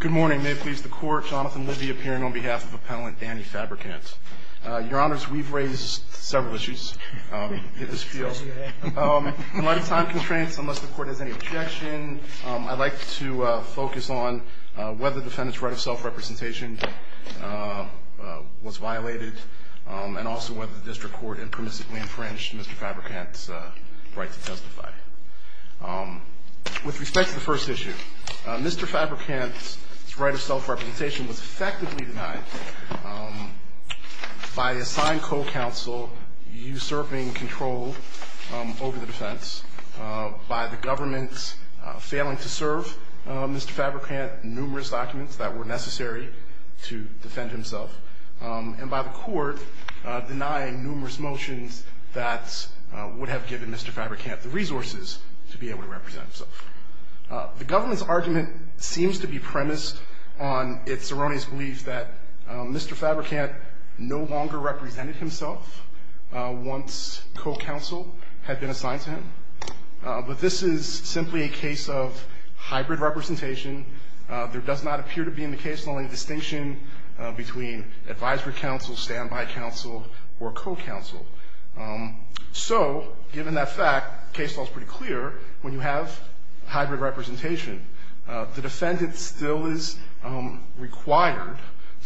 Good morning. May it please the Court, Jonathan Libby appearing on behalf of Appellant Danny Fabricant. Your Honors, we've raised several issues in this field. In light of time constraints, unless the Court has any objection, I'd like to focus on whether the defendant's right of self-representation was violated and also whether the District Court impermissibly infringed Mr. Fabricant's right to testify. With respect to the first issue, Mr. Fabricant's right of self-representation was effectively denied by the assigned co-counsel usurping control over the defense, by the government failing to serve Mr. Fabricant numerous documents that were necessary to defend himself, and by the Court denying numerous motions that would have given Mr. Fabricant the resources to be able to represent himself. The government's argument seems to be premised on its erroneous belief that Mr. Fabricant no longer represented himself once co-counsel had been assigned to him. But this is simply a case of hybrid representation. There does not appear to be in the case law any distinction between advisory counsel, standby counsel, or co-counsel. So, given that fact, the case law is pretty clear when you have hybrid representation. The defendant still is required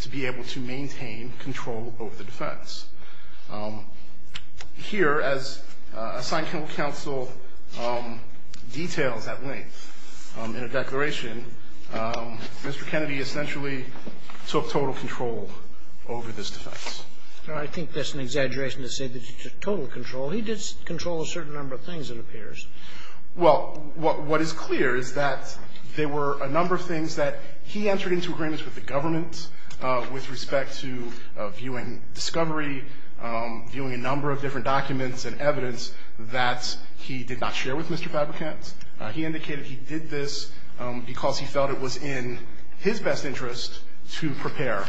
to be able to maintain control over the defense. Here, as assigned co-counsel details at length in a declaration, Mr. Kennedy essentially took total control over this defense. I think that's an exaggeration to say that he took total control. He did control a certain number of things, it appears. Well, what is clear is that there were a number of things that he entered into agreements with the government with respect to viewing discovery, viewing a number of different documents and evidence that he did not share with Mr. Fabricant. He indicated he did this because he felt it was in his best interest to prepare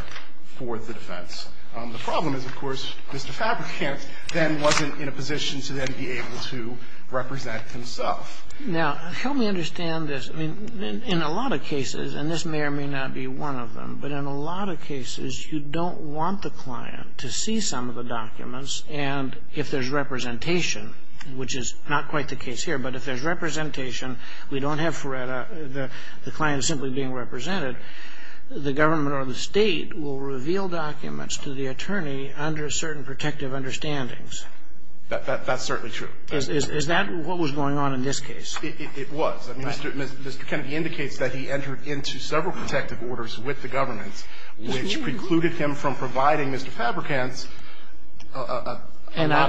for the defense. The problem is, of course, Mr. Fabricant then wasn't in a position to then be able to represent himself. Now, help me understand this. I mean, in a lot of cases, and this may or may not be one of them, but in a lot of cases, you don't want the client to see some of the documents. And if there's representation, which is not quite the case here, but if there's representation, we don't have FREDA. The client is simply being represented. The government or the State will reveal documents to the attorney under certain protective understandings. That's certainly true. Is that what was going on in this case? It was. Mr. Kennedy indicates that he entered into several protective orders with the government, which precluded him from providing Mr. Fabricant a lot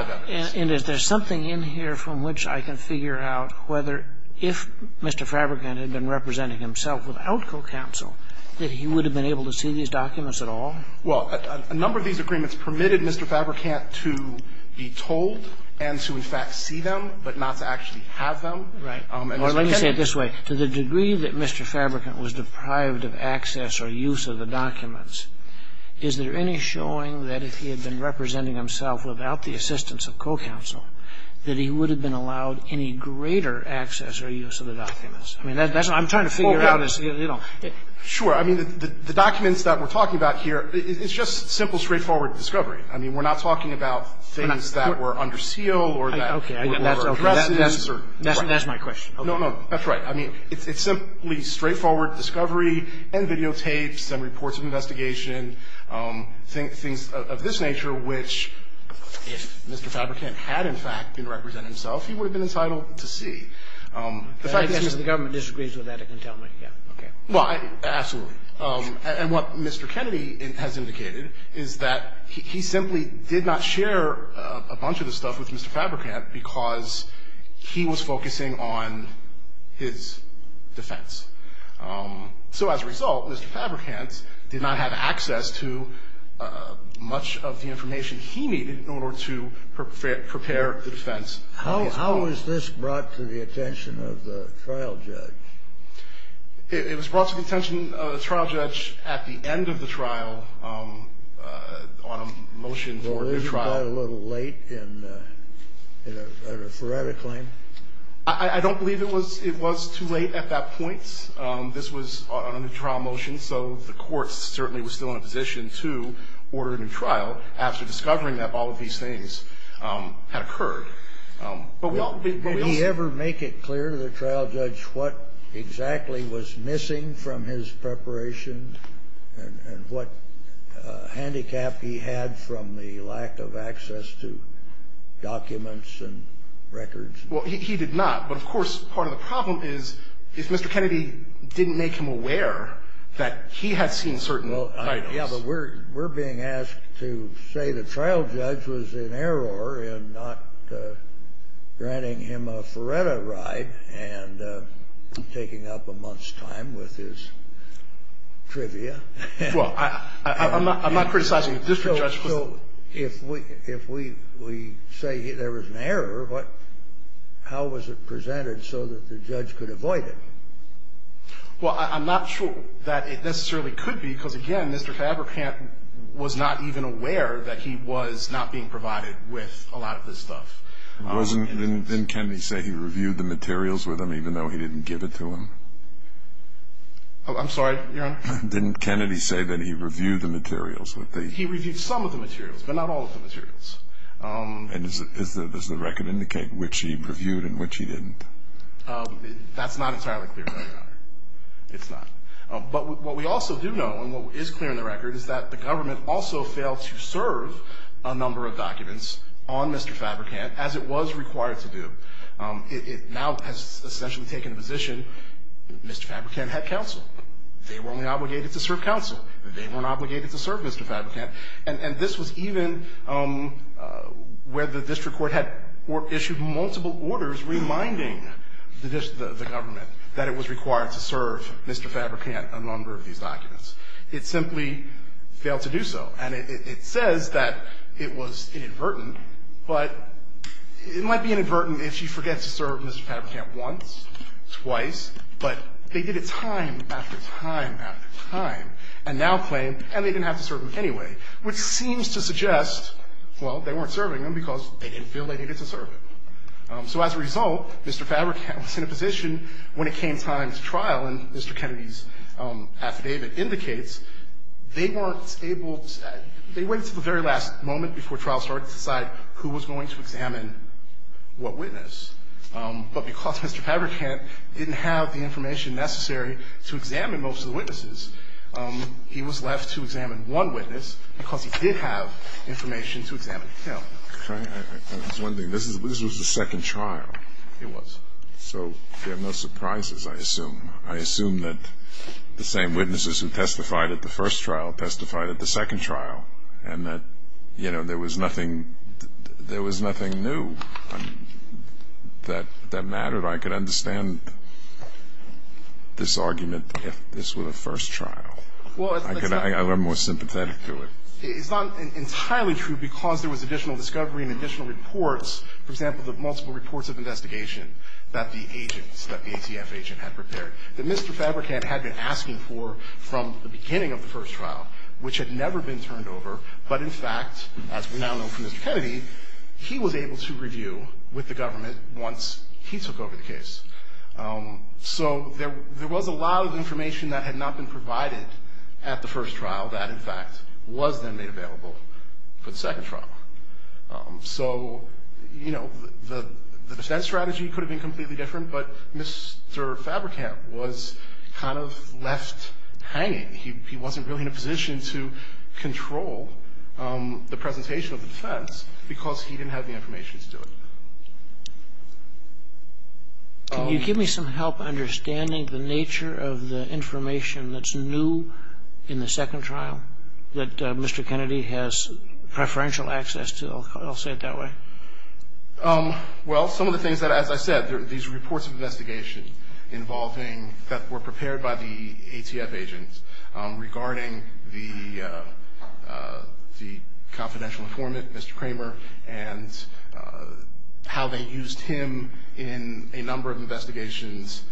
of evidence. And is there something in here from which I can figure out whether if Mr. Fabricant had been representing himself without co-counsel, that he would have been able to see these documents at all? Well, a number of these agreements permitted Mr. Fabricant to be told and to, in fact, see them, but not to actually have them. Right. Or let me say it this way. To the degree that Mr. Fabricant was deprived of access or use of the documents, is there any showing that if he had been representing himself without the assistance of co-counsel, that he would have been allowed any greater access or use of the documents? I mean, that's what I'm trying to figure out is, you know. Sure. I mean, the documents that we're talking about here, it's just simple, straightforward discovery. I mean, we're not talking about things that were under seal or that were overdressed. That's my question. No, no. That's right. I mean, it's simply straightforward discovery and videotapes and reports of investigation, things of this nature, which if Mr. Fabricant had, in fact, been representing himself, he would have been entitled to see. But I guess if the government disagrees with that, it can tell me. Yeah. Okay. Well, absolutely. And what Mr. Kennedy has indicated is that he simply did not share a bunch of this stuff with Mr. Fabricant because he was focusing on his defense. So as a result, Mr. Fabricant did not have access to much of the information he needed in order to prepare the defense. How is this brought to the attention of the trial judge? It was brought to the attention of the trial judge at the end of the trial on a motion for a new trial. Well, isn't that a little late in a forensic claim? I don't believe it was too late at that point. This was on a new trial motion, so the court certainly was still in a position to order a new trial after discovering that all of these things had occurred. But we also need to make it clear to the trial judge what exactly was missing from his preparation and what handicap he had from the lack of access to documents and records. Well, he did not. But, of course, part of the problem is if Mr. Kennedy didn't make him aware that he had seen certain titles. Yeah, but we're being asked to say the trial judge was in error in not granting him a Feretta ride and taking up a month's time with his trivia. Well, I'm not criticizing the district judge. So if we say there was an error, how was it presented so that the judge could avoid it? Well, I'm not sure that it necessarily could be, because, again, Mr. Cabracant was not even aware that he was not being provided with a lot of this stuff. Didn't Kennedy say he reviewed the materials with him even though he didn't give it to him? I'm sorry, Your Honor? Didn't Kennedy say that he reviewed the materials with the ---- He reviewed some of the materials, but not all of the materials. And does the record indicate which he reviewed and which he didn't? That's not entirely clear, Your Honor. It's not. But what we also do know, and what is clear in the record, is that the government also failed to serve a number of documents on Mr. Cabracant as it was required to do. It now has essentially taken a position that Mr. Cabracant had counsel. They were only obligated to serve counsel. They weren't obligated to serve Mr. Cabracant. And this was even where the district court had issued multiple orders reminding the government that it was required to serve Mr. Cabracant a number of these documents. It simply failed to do so. And it says that it was inadvertent, but it might be inadvertent if she forgets to serve Mr. Cabracant once, twice, but they did it time after time after time, and now claim, and they didn't have to serve him anyway, which seems to suggest, well, they weren't serving him because they didn't feel they needed to serve him. So as a result, Mr. Cabracant was in a position, when it came time to trial, and Mr. Kennedy's affidavit indicates, they weren't able to – they waited until the very last moment before trial started to decide who was going to examine what witness. But because Mr. Cabracant didn't have the information necessary to examine most of the witnesses, he was left to examine one witness because he did have information to examine him. I was wondering, this was the second trial. It was. So there are no surprises, I assume. I assume that the same witnesses who testified at the first trial testified at the second trial, and that, you know, there was nothing new that mattered. But I could understand this argument if this were the first trial. I'm more sympathetic to it. It's not entirely true because there was additional discovery and additional reports, for example, the multiple reports of investigation that the agents, that the ATF agent had prepared, that Mr. Cabracant had been asking for from the beginning of the first trial, which had never been turned over. But in fact, as we now know from Mr. Kennedy, he was able to review with the government once he took over the case. So there was a lot of information that had not been provided at the first trial that, in fact, was then made available for the second trial. So, you know, the defense strategy could have been completely different, but Mr. Cabracant was kind of left hanging. He wasn't really in a position to control the presentation of the defense because he didn't have the information to do it. Can you give me some help understanding the nature of the information that's new in the second trial that Mr. Kennedy has preferential access to? I'll say it that way. Well, some of the things that, as I said, these reports of investigations involving, that were prepared by the ATF agents, regarding the confidential informant, Mr. Kramer, and how they used him in a number of investigations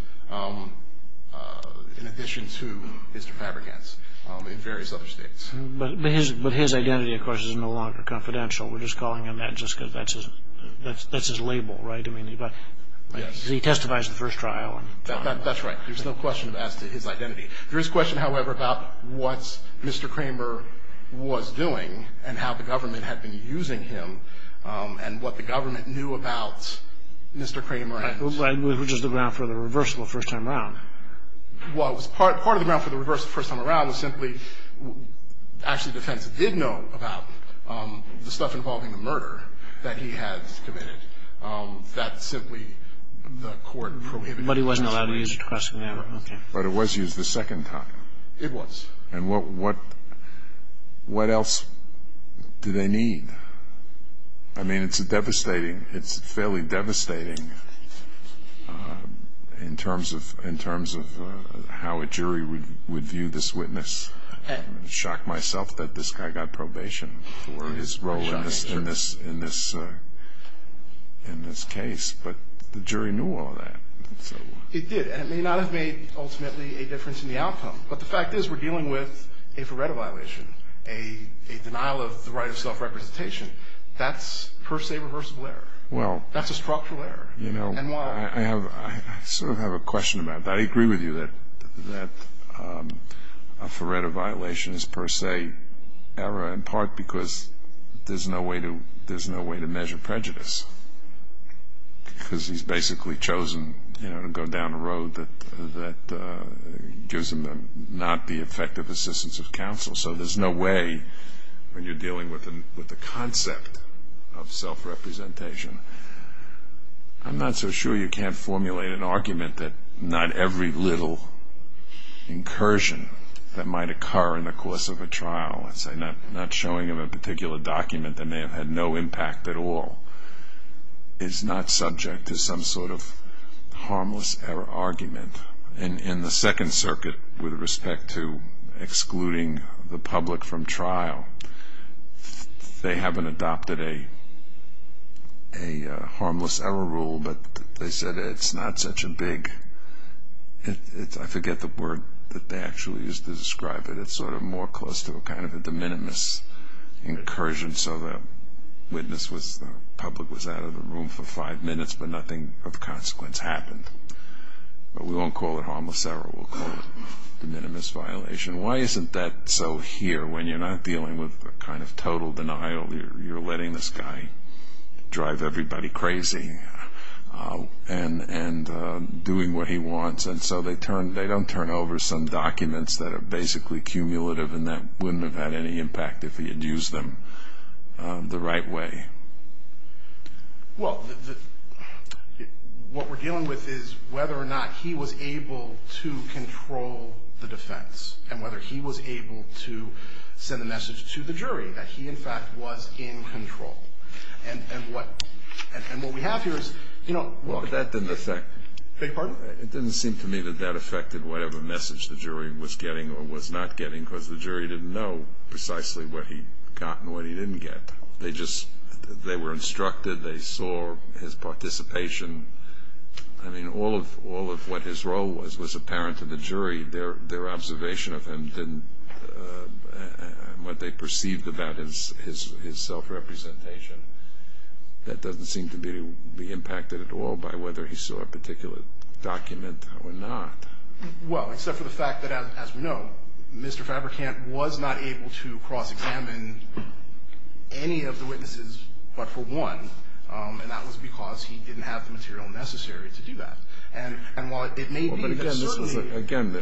in addition to Mr. Cabracant in various other states. But his identity, of course, is no longer confidential. We're just calling him that just because that's his label, right? I mean, he testified at the first trial. That's right. There's no question as to his identity. There is a question, however, about what Mr. Kramer was doing and how the government had been using him and what the government knew about Mr. Kramer. I believe it was just the ground for the reversible first time around. Well, it was part of the ground for the reversible first time around was simply Actually, the defense did know about the stuff involving the murder that he had committed. That simply the court prohibited. But he wasn't allowed to use it the first time around. But it was used the second time. It was. And what else do they need? I mean, it's devastating. It's fairly devastating in terms of how a jury would view this witness. I'm shocked myself that this guy got probation for his role in this case. But the jury knew all of that. It did. And it may not have made, ultimately, a difference in the outcome. But the fact is we're dealing with a Feretta violation, a denial of the right of self-representation. That's per se reversible error. That's a structural error. I sort of have a question about that. I agree with you that a Feretta violation is per se error in part because there's no way to measure prejudice. Because he's basically chosen to go down a road that gives him not the effective assistance of counsel. So there's no way when you're dealing with the concept of self-representation. I'm not so sure you can't formulate an argument that not every little incursion that might occur in the course of a trial, let's say not showing of a particular document that may have had no impact at all, is not subject to some sort of harmless error argument. In the Second Circuit, with respect to excluding the public from trial, they haven't adopted a harmless error rule, but they said it's not such a big – I forget the word that they actually used to describe it. They said it's sort of more close to a kind of a de minimis incursion. So the public was out of the room for five minutes, but nothing of consequence happened. But we won't call it harmless error. We'll call it de minimis violation. Why isn't that so here when you're not dealing with a kind of total denial? You're letting this guy drive everybody crazy and doing what he wants. And so they don't turn over some documents that are basically cumulative and that wouldn't have had any impact if he had used them the right way. Well, what we're dealing with is whether or not he was able to control the defense and whether he was able to send a message to the jury that he, in fact, was in control. And what we have here is – Beg your pardon? It doesn't seem to me that that affected whatever message the jury was getting or was not getting because the jury didn't know precisely what he got and what he didn't get. They just – they were instructed. They saw his participation. I mean, all of what his role was was apparent to the jury. Their observation of him didn't – what they perceived about his self-representation. That doesn't seem to me to be impacted at all by whether he saw a particular document or not. Well, except for the fact that, as we know, Mr. Fabrikant was not able to cross-examine any of the witnesses but for one, and that was because he didn't have the material necessary to do that. And while it may be that certainly – Again,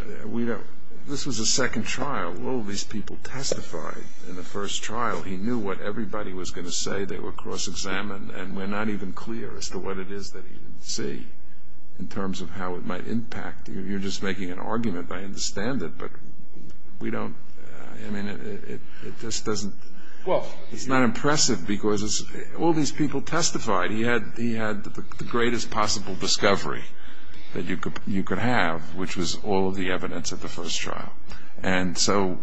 this was a second trial. All of these people testified in the first trial. He knew what everybody was going to say. They were cross-examined, and we're not even clear as to what it is that he didn't see in terms of how it might impact. You're just making an argument. I understand it, but we don't – I mean, it just doesn't – Well – It's not impressive because all these people testified. He had the greatest possible discovery that you could have, which was all of the evidence at the first trial. And so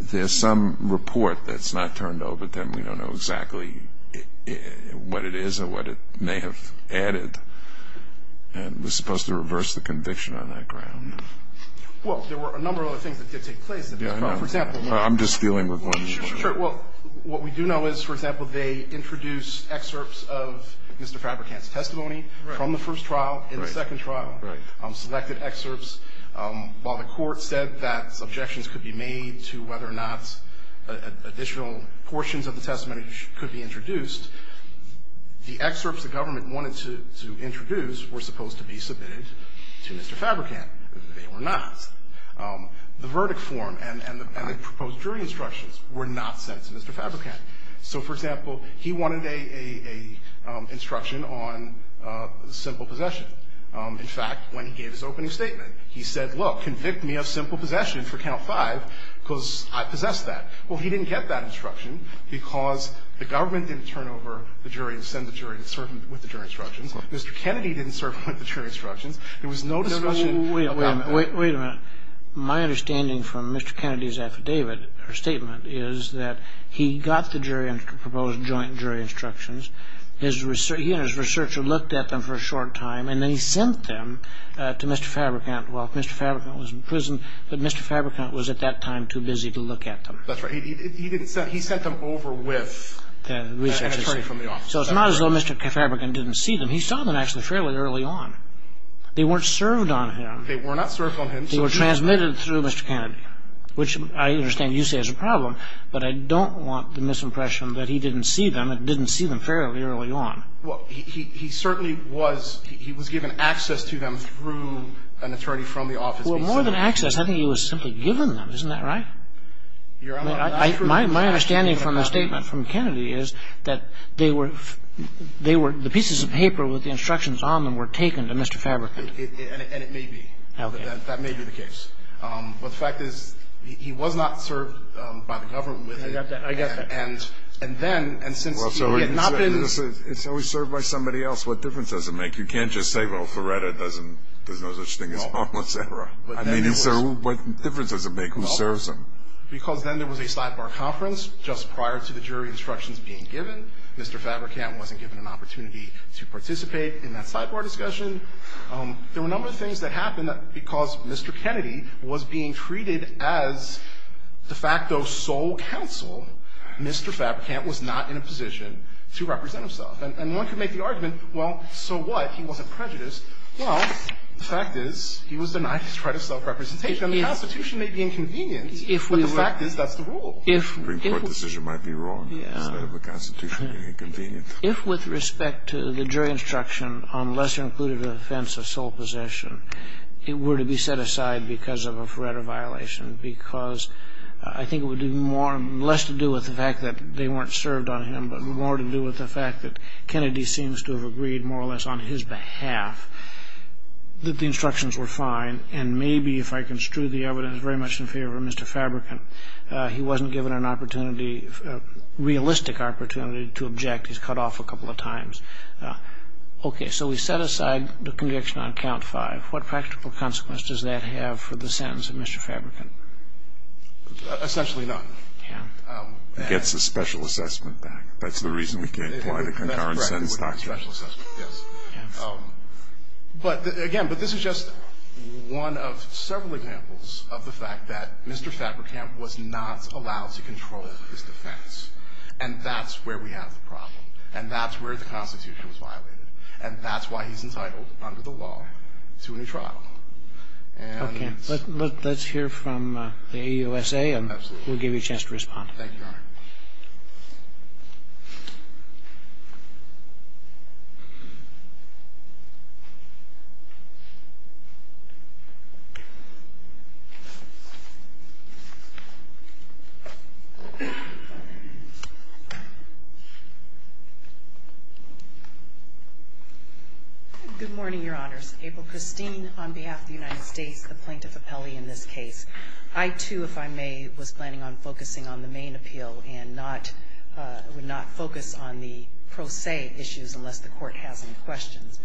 there's some report that's not turned over, but then we don't know exactly what it is or what it may have added, and we're supposed to reverse the conviction on that ground. Well, there were a number of other things that did take place at this trial. Yeah, I know. For example – I'm just dealing with one more. Sure. Well, what we do know is, for example, they introduced excerpts of Mr. Fabrikant's testimony from the first trial in the second trial. Right. They selected excerpts. While the court said that objections could be made to whether or not additional portions of the testimony could be introduced, the excerpts the government wanted to introduce were supposed to be submitted to Mr. Fabrikant. They were not. The verdict form and the proposed jury instructions were not sent to Mr. Fabrikant. So, for example, he wanted an instruction on simple possession. In fact, when he gave his opening statement, he said, look, convict me of simple possession for count five because I possess that. Well, he didn't get that instruction because the government didn't turn over the jury and send the jury to serve him with the jury instructions. Mr. Kennedy didn't serve him with the jury instructions. There was no discussion of government. Wait a minute. Wait a minute. My understanding from Mr. Kennedy's affidavit or statement is that he got the jury and proposed joint jury instructions. He and his researcher looked at them for a short time, and then he sent them to Mr. Fabrikant. Well, Mr. Fabrikant was in prison, but Mr. Fabrikant was at that time too busy to look at them. That's right. He didn't send them. He sent them over with an attorney from the office. So it's not as though Mr. Fabrikant didn't see them. He saw them actually fairly early on. They weren't served on him. They were not served on him. They were transmitted through Mr. Kennedy, which I understand you say is a problem, but I don't want the misimpression that he didn't see them fairly early on. Well, he certainly was. He was given access to them through an attorney from the office. Well, more than access, I think he was simply given them. Isn't that right? My understanding from the statement from Kennedy is that they were the pieces of paper with the instructions on them were taken to Mr. Fabrikant. And it may be. Okay. That may be the case. But the fact is he was not served by the government. I got that. And then, and since he had not been. Well, so he's served by somebody else. What difference does it make? You can't just say, well, Feretta doesn't, there's no such thing as homeless, et cetera. I mean, what difference does it make? Who serves him? Because then there was a sidebar conference just prior to the jury instructions being given. Mr. Fabrikant wasn't given an opportunity to participate in that sidebar discussion. There were a number of things that happened because Mr. Kennedy was being treated as de facto sole counsel. Mr. Fabrikant was not in a position to represent himself. And one could make the argument, well, so what? He wasn't prejudiced. Well, the fact is he was denied his right of self-representation. And the Constitution may be inconvenient. If we were. But the fact is that's the rule. The Supreme Court decision might be wrong. Yeah. Instead of the Constitution being inconvenient. If with respect to the jury instruction on lesser included offense of sole possession, it were to be set aside because of a forerunner violation, because I think it would do less to do with the fact that they weren't served on him, but more to do with the fact that Kennedy seems to have agreed more or less on his behalf that the instructions were fine. And maybe if I construe the evidence very much in favor of Mr. Fabrikant, he wasn't given an opportunity, a realistic opportunity to object. He's cut off a couple of times. Okay. So we set aside the conviction on count five. What practical consequence does that have for the sentence of Mr. Fabrikant? Essentially none. It gets the special assessment back. That's the reason we can't apply the concurrent sentence doctrine. Yes. But, again, but this is just one of several examples of the fact that Mr. Fabrikant was not allowed to control his defense. And that's where we have the problem. And that's where the Constitution was violated. And that's why he's entitled under the law to a new trial. Okay. Let's hear from the AUSA. Absolutely. We'll give you a chance to respond. Thank you, Your Honor. Good morning, Your Honors. April Christine on behalf of the United States, the plaintiff appellee in this case. I, too, if I may, was planning on focusing on the main appeal and would not focus on the pro se issues unless the court has any questions.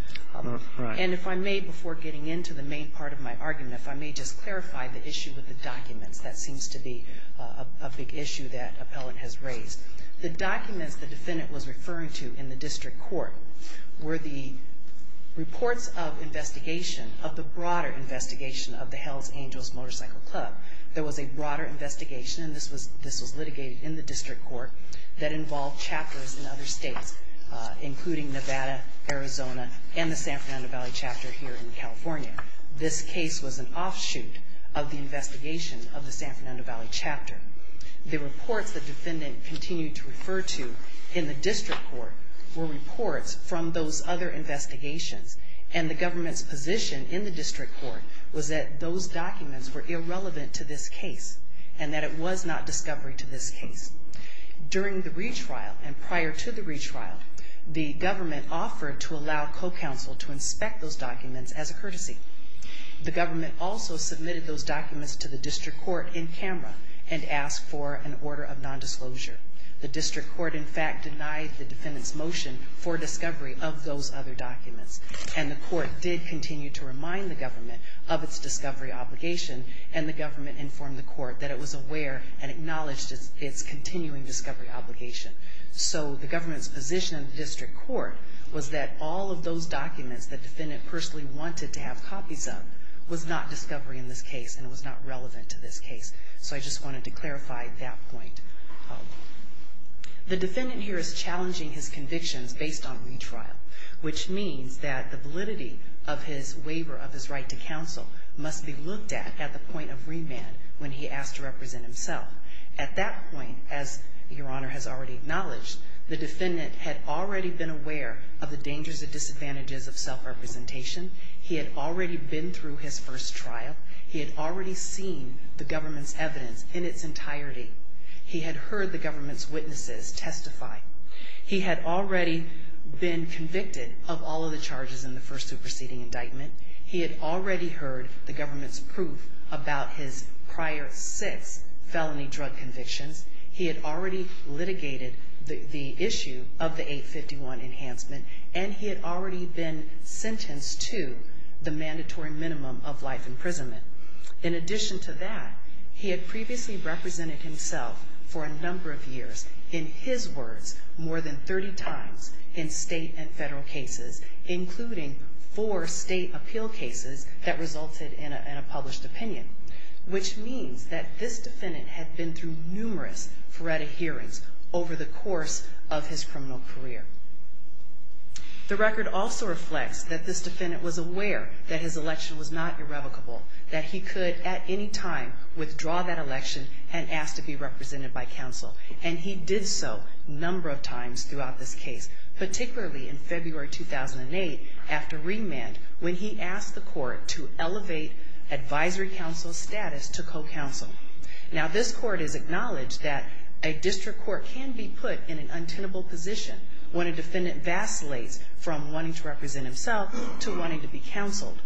Right. And if I may, before getting into the main part of my argument, if I may just clarify the issue with the documents. That seems to be a big issue that appellant has raised. The documents the defendant was referring to in the district court were the reports of investigation of the broader investigation of the Hells Angels Motorcycle Club. There was a broader investigation, and this was litigated in the district court, that involved chapters in other states, including Nevada, Arizona, and the San Fernando Valley chapter here in California. This case was an offshoot of the investigation of the San Fernando Valley chapter. The reports the defendant continued to refer to in the district court were reports from those other investigations, and the government's position in the district court was that those documents were irrelevant to this case and that it was not discovery to this case. During the retrial and prior to the retrial, the government offered to allow co-counsel to inspect those documents as a courtesy. The government also submitted those documents to the district court in camera and asked for an order of non-disclosure. The district court, in fact, denied the defendant's motion for discovery of those other documents, and the court did continue to remind the government of its discovery obligation, and the government informed the court that it was aware and acknowledged its continuing discovery obligation. So the government's position in the district court was that all of those documents the defendant personally wanted to have copies of was not discovery in this case and was not relevant to this case. So I just wanted to clarify that point. The defendant here is challenging his convictions based on retrial, which means that the validity of his waiver of his right to counsel must be looked at at the point of remand when he asks to represent himself. At that point, as Your Honor has already acknowledged, the defendant had already been aware of the dangers and disadvantages of self-representation. He had already been through his first trial. He had already seen the government's evidence in its entirety. He had heard the government's witnesses testify. He had already been convicted of all of the charges in the first superseding indictment. He had already heard the government's proof about his prior six felony drug convictions. He had already litigated the issue of the 851 enhancement, and he had already been sentenced to the mandatory minimum of life imprisonment. In addition to that, he had previously represented himself for a number of years, in his words, more than 30 times in state and federal cases, including four state appeal cases that resulted in a published opinion, which means that this defendant had been through numerous FREDA hearings over the course of his criminal career. The record also reflects that this defendant was aware that his election was not irrevocable, that he could at any time withdraw that election and ask to be represented by counsel, and he did so a number of times throughout this case, particularly in February 2008 after remand, when he asked the court to elevate advisory counsel's status to co-counsel. Now, this court has acknowledged that a district court can be put in an untenable position when a defendant vacillates from wanting to represent himself to wanting to be counseled.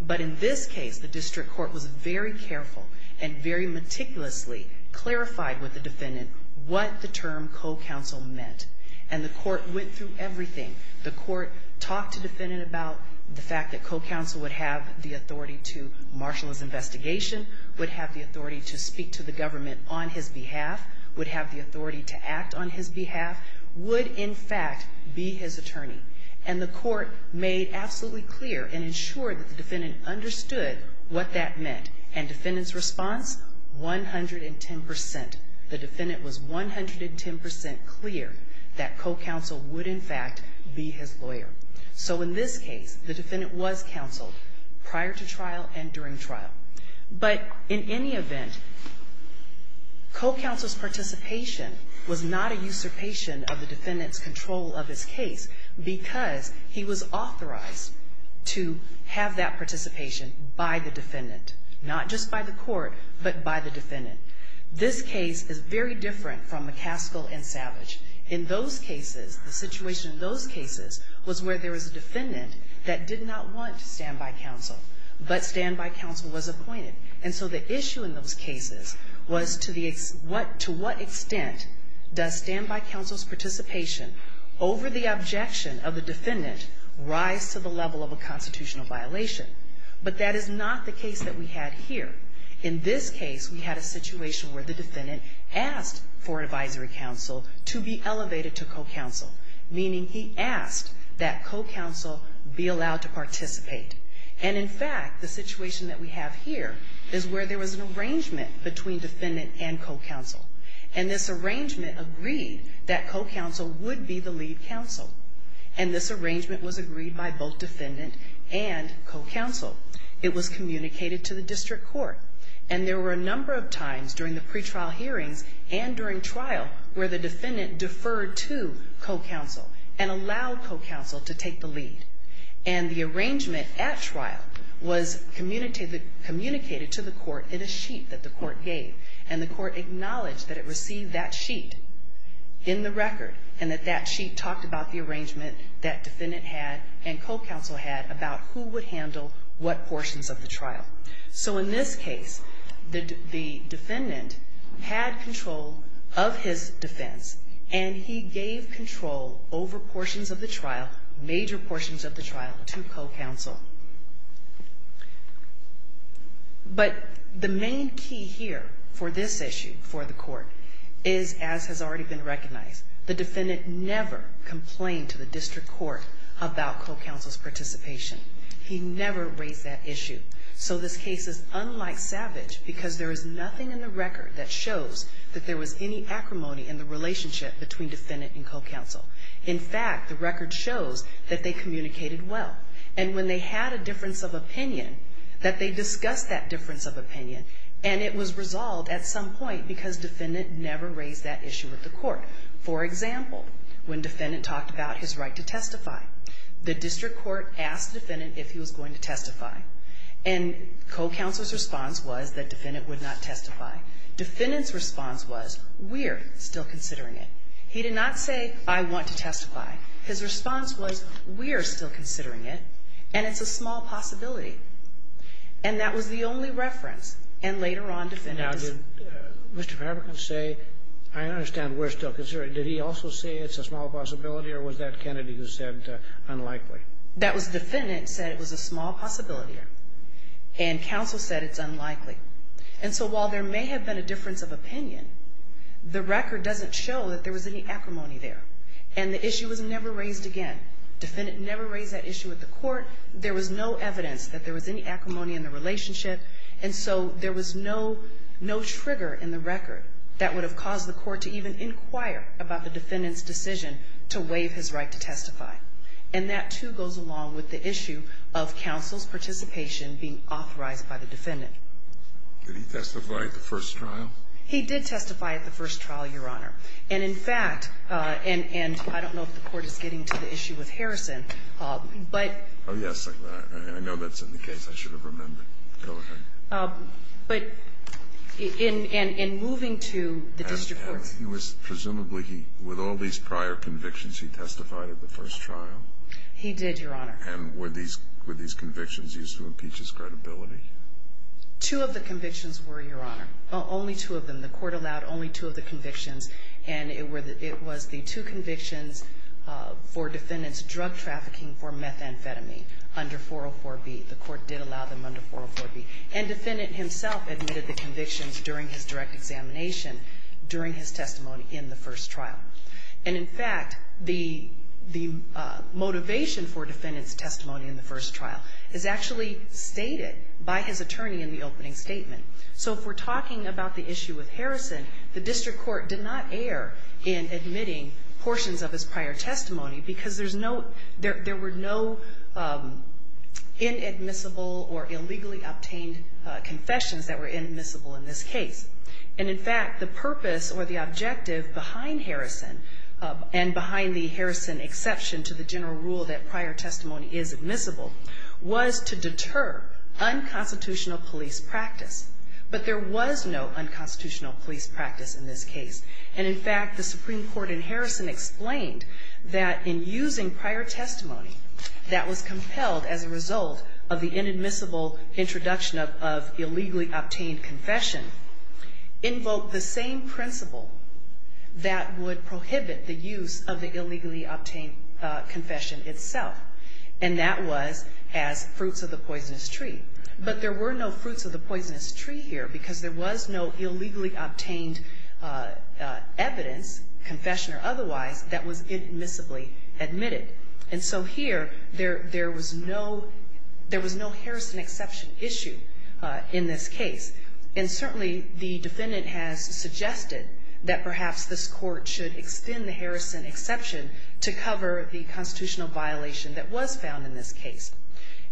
But in this case, the district court was very careful and very meticulously clarified with the defendant what the term co-counsel meant, and the court went through everything. The court talked to the defendant about the fact that co-counsel would have the authority to marshal his investigation, would have the authority to speak to the government on his behalf, would have the authority to act on his behalf, would, in fact, be his attorney. And the court made absolutely clear and ensured that the defendant understood what that meant, and defendant's response, 110%. The defendant was 110% clear that co-counsel would, in fact, be his lawyer. So in this case, the defendant was counseled prior to trial and during trial. But in any event, co-counsel's participation was not a usurpation of the defendant's control of his case because he was authorized to have that participation by the defendant, not just by the court, but by the defendant. This case is very different from McCaskill and Savage. In those cases, the situation in those cases was where there was a defendant that did not want standby counsel, but standby counsel was appointed. And so the issue in those cases was to what extent does standby counsel's participation over the objection of the defendant rise to the level of a constitutional violation. But that is not the case that we had here. In this case, we had a situation where the defendant asked for advisory counsel to be elevated to co-counsel, meaning he asked that co-counsel be allowed to participate. And in fact, the situation that we have here is where there was an arrangement between defendant and co-counsel. And this arrangement agreed that co-counsel would be the lead counsel. And this arrangement was agreed by both defendant and co-counsel. It was communicated to the district court. And there were a number of times during the pretrial hearings and during trial where the defendant deferred to co-counsel and allowed co-counsel to take the lead. And the arrangement at trial was communicated to the court in a sheet that the court gave. And the court acknowledged that it received that sheet in the record and that that sheet talked about the arrangement that defendant had and co-counsel had about who would handle what portions of the trial. So in this case, the defendant had control of his defense, and he gave control over portions of the trial, major portions of the trial, to co-counsel. But the main key here for this issue for the court is, as has already been recognized, the defendant never complained to the district court about co-counsel's participation. He never raised that issue. So this case is unlike Savage because there is nothing in the record that shows that there was any acrimony in the relationship between defendant and co-counsel. In fact, the record shows that they communicated well. And when they had a difference of opinion, that they discussed that difference of opinion, and it was resolved at some point because defendant never raised that issue with the court. For example, when defendant talked about his right to testify, the district court asked the defendant if he was going to testify. And co-counsel's response was that defendant would not testify. Defendant's response was, we're still considering it. He did not say, I want to testify. His response was, we're still considering it, and it's a small possibility. And that was the only reference. And later on, defendant decided. Now did Mr. Fabricant say, I understand we're still considering it. Did he also say it's a small possibility, or was that Kennedy who said unlikely? That was defendant said it was a small possibility, and counsel said it's unlikely. And so while there may have been a difference of opinion, the record doesn't show that there was any acrimony there. And the issue was never raised again. Defendant never raised that issue with the court. There was no evidence that there was any acrimony in the relationship, and so there was no trigger in the record that would have caused the court to even inquire about the defendant's decision to waive his right to testify. And that, too, goes along with the issue of counsel's participation being authorized by the defendant. Did he testify at the first trial? He did testify at the first trial, Your Honor. And in fact, and I don't know if the court is getting to the issue with Harrison, but Oh, yes, I know that's in the case. I should have remembered. Go ahead. But in moving to the district courts. And he was presumably, with all these prior convictions, he testified at the first trial? He did, Your Honor. And were these convictions used to impeach his credibility? Two of the convictions were, Your Honor. Only two of them. The court allowed only two of the convictions, and it was the two convictions for defendant's drug trafficking for methamphetamine under 404B. The court did allow them under 404B. And the defendant himself admitted the convictions during his direct examination, during his testimony in the first trial. And in fact, the motivation for defendant's testimony in the first trial is actually stated by his attorney in the opening statement. So if we're talking about the issue with Harrison, the district court did not err in admitting portions of his prior testimony because there were no inadmissible or illegally obtained confessions that were admissible in this case. And in fact, the purpose or the objective behind Harrison and behind the Harrison exception to the general rule that prior testimony is admissible was to deter unconstitutional police practice. But there was no unconstitutional police practice in this case. And in fact, the Supreme Court in Harrison explained that in using prior testimony that was compelled as a result of the inadmissible introduction of illegally obtained confession invoked the same principle that would prohibit the use of the illegally obtained confession itself. And that was as fruits of the poisonous tree. But there were no fruits of the poisonous tree here because there was no illegally obtained evidence, confession or otherwise, that was admissibly admitted. And so here there was no Harrison exception issue in this case. And certainly the defendant has suggested that perhaps this court should extend the Harrison exception to cover the constitutional violation that was found in this case.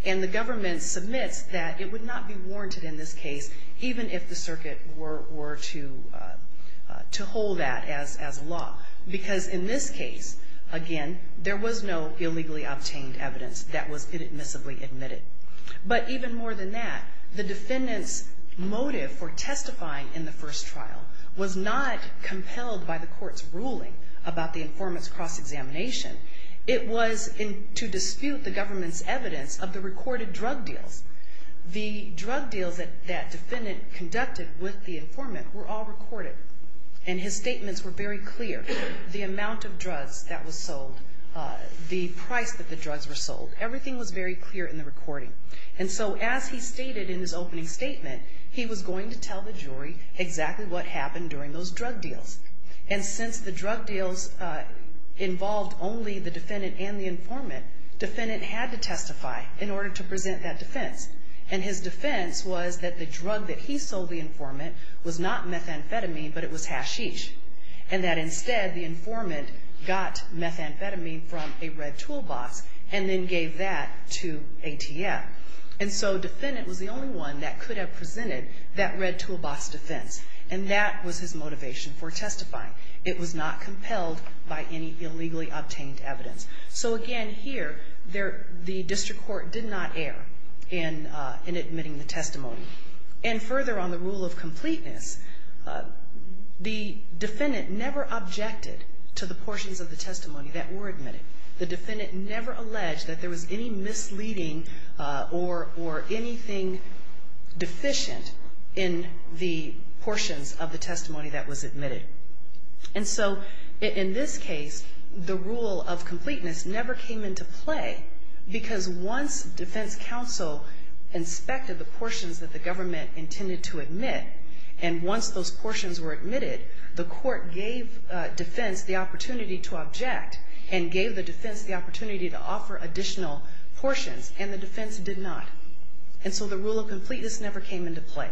And the government submits that it would not be warranted in this case even if the circuit were to hold that as law. Because in this case, again, there was no illegally obtained evidence that was inadmissibly admitted. But even more than that, the defendant's motive for testifying in the first trial was not compelled by the court's ruling about the informant's cross-examination. It was to dispute the government's evidence of the recorded drug deals. The drug deals that defendant conducted with the informant were all recorded. And his statements were very clear. The amount of drugs that was sold, the price that the drugs were sold, everything was very clear in the recording. And so as he stated in his opening statement, he was going to tell the jury exactly what happened during those drug deals. And since the drug deals involved only the defendant and the informant, defendant had to testify in order to present that defense. And his defense was that the drug that he sold the informant was not methamphetamine, but it was hashish. And that instead the informant got methamphetamine from a red toolbox and then gave that to ATF. And so defendant was the only one that could have presented that red toolbox defense. And that was his motivation for testifying. It was not compelled by any illegally obtained evidence. So again, here, the district court did not err in admitting the testimony. And further, on the rule of completeness, the defendant never objected to the portions of the testimony that were admitted. The defendant never alleged that there was any misleading or anything deficient in the portions of the testimony that was admitted. And so in this case, the rule of completeness never came into play because once defense counsel inspected the portions that the government intended to admit, and once those portions were admitted, the court gave defense the opportunity to object and gave the defense the opportunity to offer additional portions, and the defense did not. And so the rule of completeness never came into play.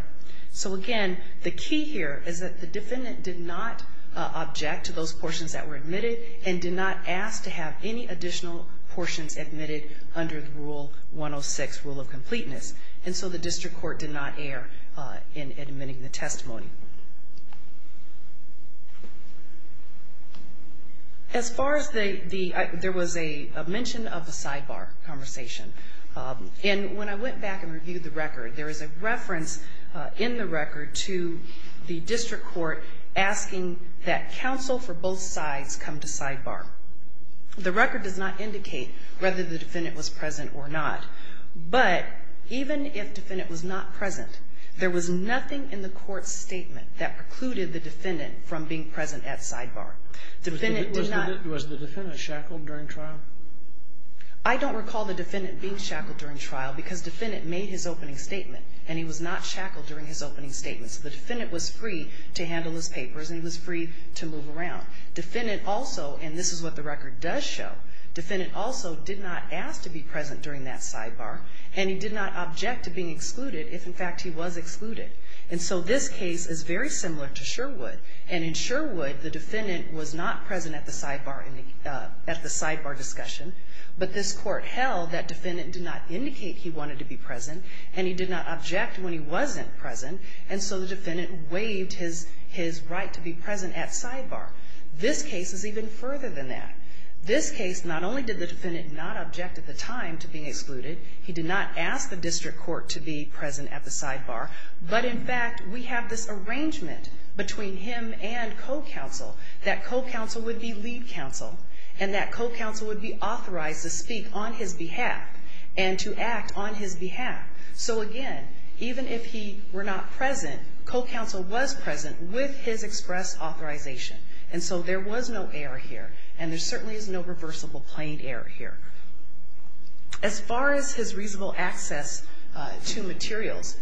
So again, the key here is that the defendant did not object to those portions that were admitted and did not ask to have any additional portions admitted under the Rule 106, Rule of Completeness. And so the district court did not err in admitting the testimony. As far as the ‑‑ there was a mention of a sidebar conversation. And when I went back and reviewed the record, there was a reference in the record to the district court asking that counsel for both sides come to sidebar. The record does not indicate whether the defendant was present or not. But even if the defendant was not present, there was nothing in the court's statement that precluded the defendant from being present at sidebar. Was the defendant shackled during trial? I don't recall the defendant being shackled during trial because the defendant made his opening statement and he was not shackled during his opening statement. So the defendant was free to handle his papers and he was free to move around. The defendant also, and this is what the record does show, the defendant also did not ask to be present during that sidebar and he did not object to being excluded if, in fact, he was excluded. And so this case is very similar to Sherwood. And in Sherwood, the defendant was not present at the sidebar discussion. But this court held that defendant did not indicate he wanted to be present and he did not object when he wasn't present. And so the defendant waived his right to be present at sidebar. This case is even further than that. This case, not only did the defendant not object at the time to being excluded, he did not ask the district court to be present at the sidebar, but, in fact, we have this arrangement between him and co-counsel, that co-counsel would be lead counsel and that co-counsel would be authorized to speak on his behalf and to act on his behalf. So, again, even if he were not present, co-counsel was present with his express authorization. And so there was no error here and there certainly is no reversible plain error here. As far as his reasonable access to materials,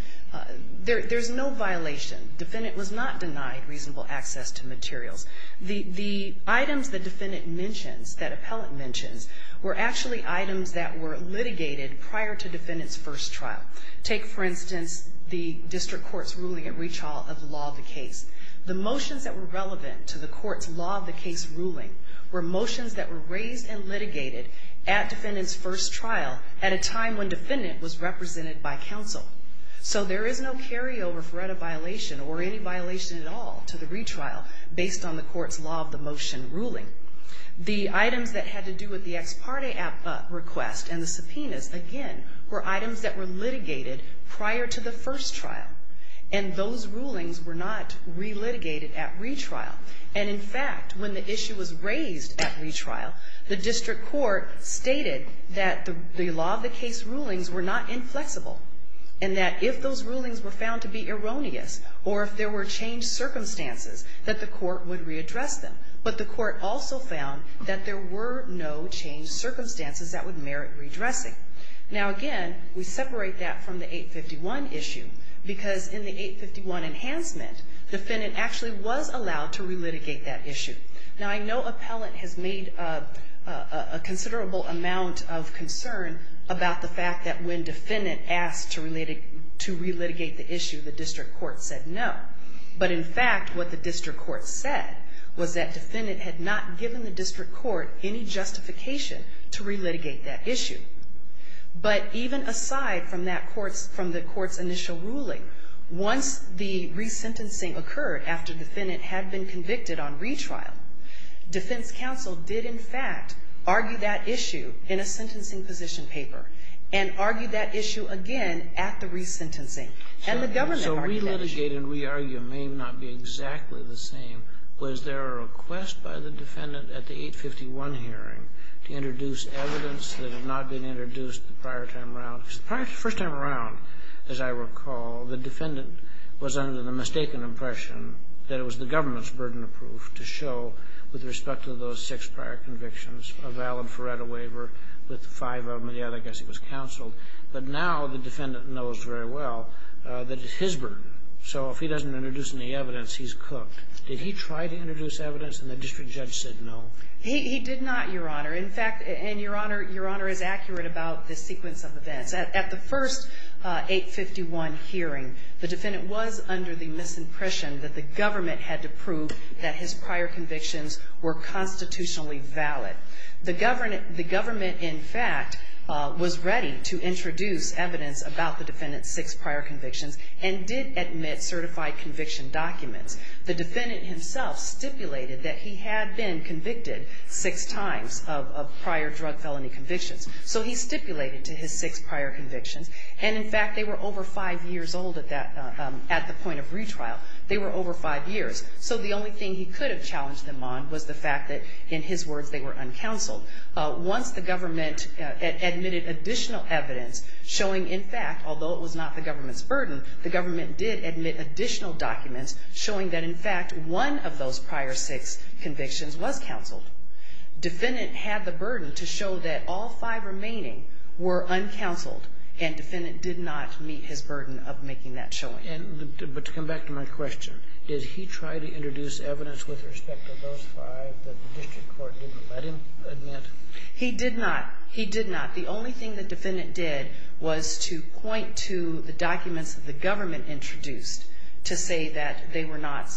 there's no violation. Defendant was not denied reasonable access to materials. The items the defendant mentions, that appellant mentions, were actually items that were litigated prior to defendant's first trial. Take, for instance, the district court's ruling at retrial of the law of the case. The motions that were relevant to the court's law of the case ruling were motions that were raised and litigated at defendant's first trial at a time when defendant was represented by counsel. So there is no carryover for any violation or any violation at all to the retrial based on the court's law of the motion ruling. The items that had to do with the ex parte request and the subpoenas, again, were items that were litigated prior to the first trial. And those rulings were not re-litigated at retrial. And, in fact, when the issue was raised at retrial, the district court stated that the law of the case rulings were not inflexible and that if those rulings were found to be erroneous or if there were changed circumstances, that the court would readdress them. But the court also found that there were no changed circumstances that would merit redressing. Now, again, we separate that from the 851 issue because in the 851 enhancement, defendant actually was allowed to re-litigate that issue. Now, I know appellant has made a considerable amount of concern about the fact that when defendant asked to re-litigate the issue, the district court said no. But, in fact, what the district court said was that defendant had not given the district court any justification to re-litigate that issue. But even aside from the court's initial ruling, once the re-sentencing occurred after defendant had been convicted on retrial, defense counsel did, in fact, argue that issue in a sentencing position paper and argued that issue again at the re-sentencing. And the government argued that issue. So re-litigate and re-argue may not be exactly the same. Was there a request by the defendant at the 851 hearing to introduce evidence that had not been introduced the prior time around? The first time around, as I recall, the defendant was under the mistaken impression that it was the government's burden of proof to show, with respect to those six prior convictions, a valid Feretta waiver with five of them, and the other, I guess, it was counsel. But now the defendant knows very well that it's his burden. So if he doesn't introduce any evidence, he's cooked. Did he try to introduce evidence, and the district judge said no? He did not, Your Honor. In fact, and Your Honor is accurate about the sequence of events. At the first 851 hearing, the defendant was under the misimpression that the government had to prove that his prior convictions were constitutionally valid. The government, in fact, was ready to introduce evidence about the defendant's six prior convictions and did admit certified conviction documents. The defendant himself stipulated that he had been convicted six times of prior drug felony convictions. So he stipulated to his six prior convictions, and, in fact, they were over five years old at the point of retrial. They were over five years. So the only thing he could have challenged them on was the fact that, in his words, they were uncounseled. Once the government admitted additional evidence showing, in fact, although it was not the government's burden, the government did admit additional documents showing that, in fact, one of those prior six convictions was counseled. Defendant had the burden to show that all five remaining were uncounseled, and defendant did not meet his burden of making that showing. But to come back to my question, did he try to introduce evidence with respect to those five that the district court didn't let him admit? He did not. He did not. The only thing the defendant did was to point to the documents that the government introduced to say that they were not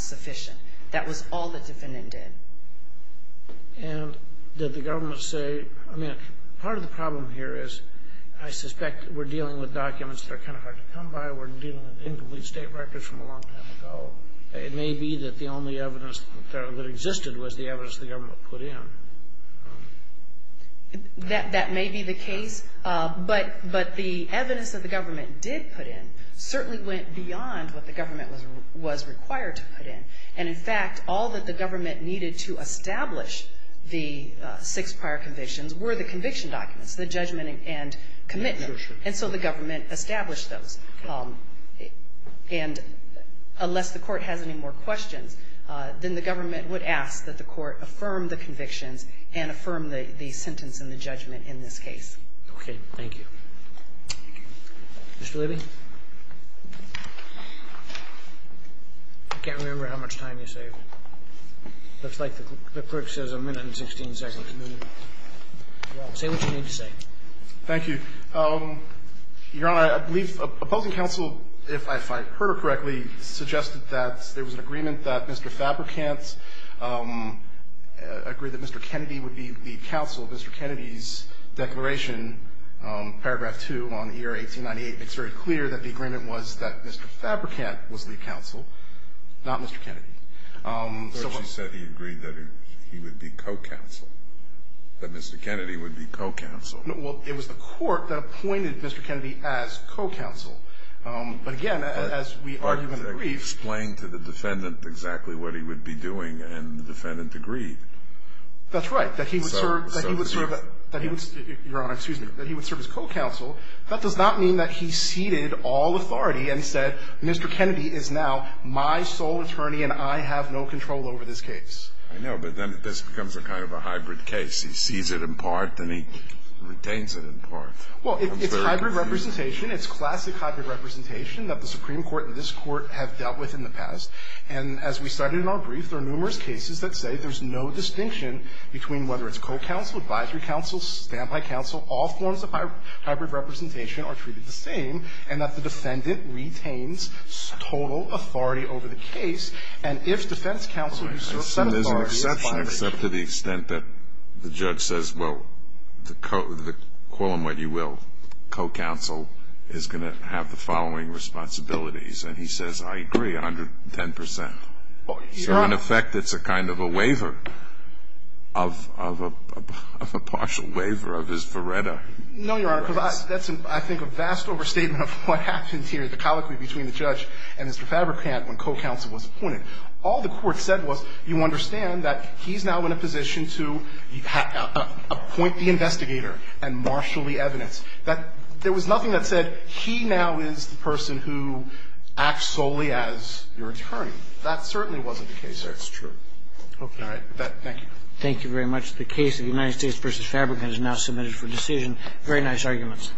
sufficient. That was all the defendant did. And did the government say, I mean, part of the problem here is I suspect we're dealing with documents that are kind of hard to come by. We're dealing with incomplete state records from a long time ago. It may be that the only evidence that existed was the evidence the government put in. That may be the case, but the evidence that the government did put in certainly went beyond what the government was required to put in. And, in fact, all that the government needed to establish the six prior convictions were the conviction documents, the judgment and commitment. And so the government established those. And unless the Court has any more questions, then the government would ask that the Court affirm the convictions and affirm the sentence and the judgment in this case. Okay. Thank you. Mr. Levy. I can't remember how much time you saved. Looks like the clerk says a minute and 16 seconds. Say what you need to say. Thank you. Your Honor, I believe opposing counsel, if I heard her correctly, suggested that there was an agreement that Mr. Fabricant agreed that Mr. Kennedy would be the counsel. Mr. Kennedy's declaration, Paragraph 2 on the year 1898, makes very clear that the agreement was that Mr. Fabricant was the counsel, not Mr. Kennedy. She said he agreed that he would be co-counsel, that Mr. Kennedy would be co-counsel. Well, it was the Court that appointed Mr. Kennedy as co-counsel. But, again, as we argued in the brief. But you explained to the defendant exactly what he would be doing, and the defendant agreed. That's right, that he would serve as co-counsel. That does not mean that he ceded all authority and said, Mr. Kennedy is now my sole attorney and I have no control over this case. I know, but then this becomes a kind of a hybrid case. He sees it in part and he retains it in part. Well, it's hybrid representation. It's classic hybrid representation that the Supreme Court and this Court have dealt with in the past. And as we cited in our brief, there are numerous cases that say there's no distinction between whether it's co-counsel, advisory counsel, standby counsel, all forms of hybrid representation are treated the same, and that the defendant retains total authority over the case. And if defense counsel who serves that authority is fired. Except to the extent that the judge says, well, call them what you will, co-counsel is going to have the following responsibilities. And he says, I agree 110 percent. So, in effect, it's a kind of a waiver of a partial waiver of his verreda. No, Your Honor, because I think that's a vast overstatement of what happened here, the colloquy between the judge and Mr. Fabrikant when co-counsel was appointed. All the Court said was you understand that he's now in a position to appoint the investigator and marshal the evidence. There was nothing that said he now is the person who acts solely as your attorney. That certainly wasn't the case there. That's true. Okay. All right. Thank you. Thank you very much. The case of United States v. Fabrikant is now submitted for decision. Very nice arguments.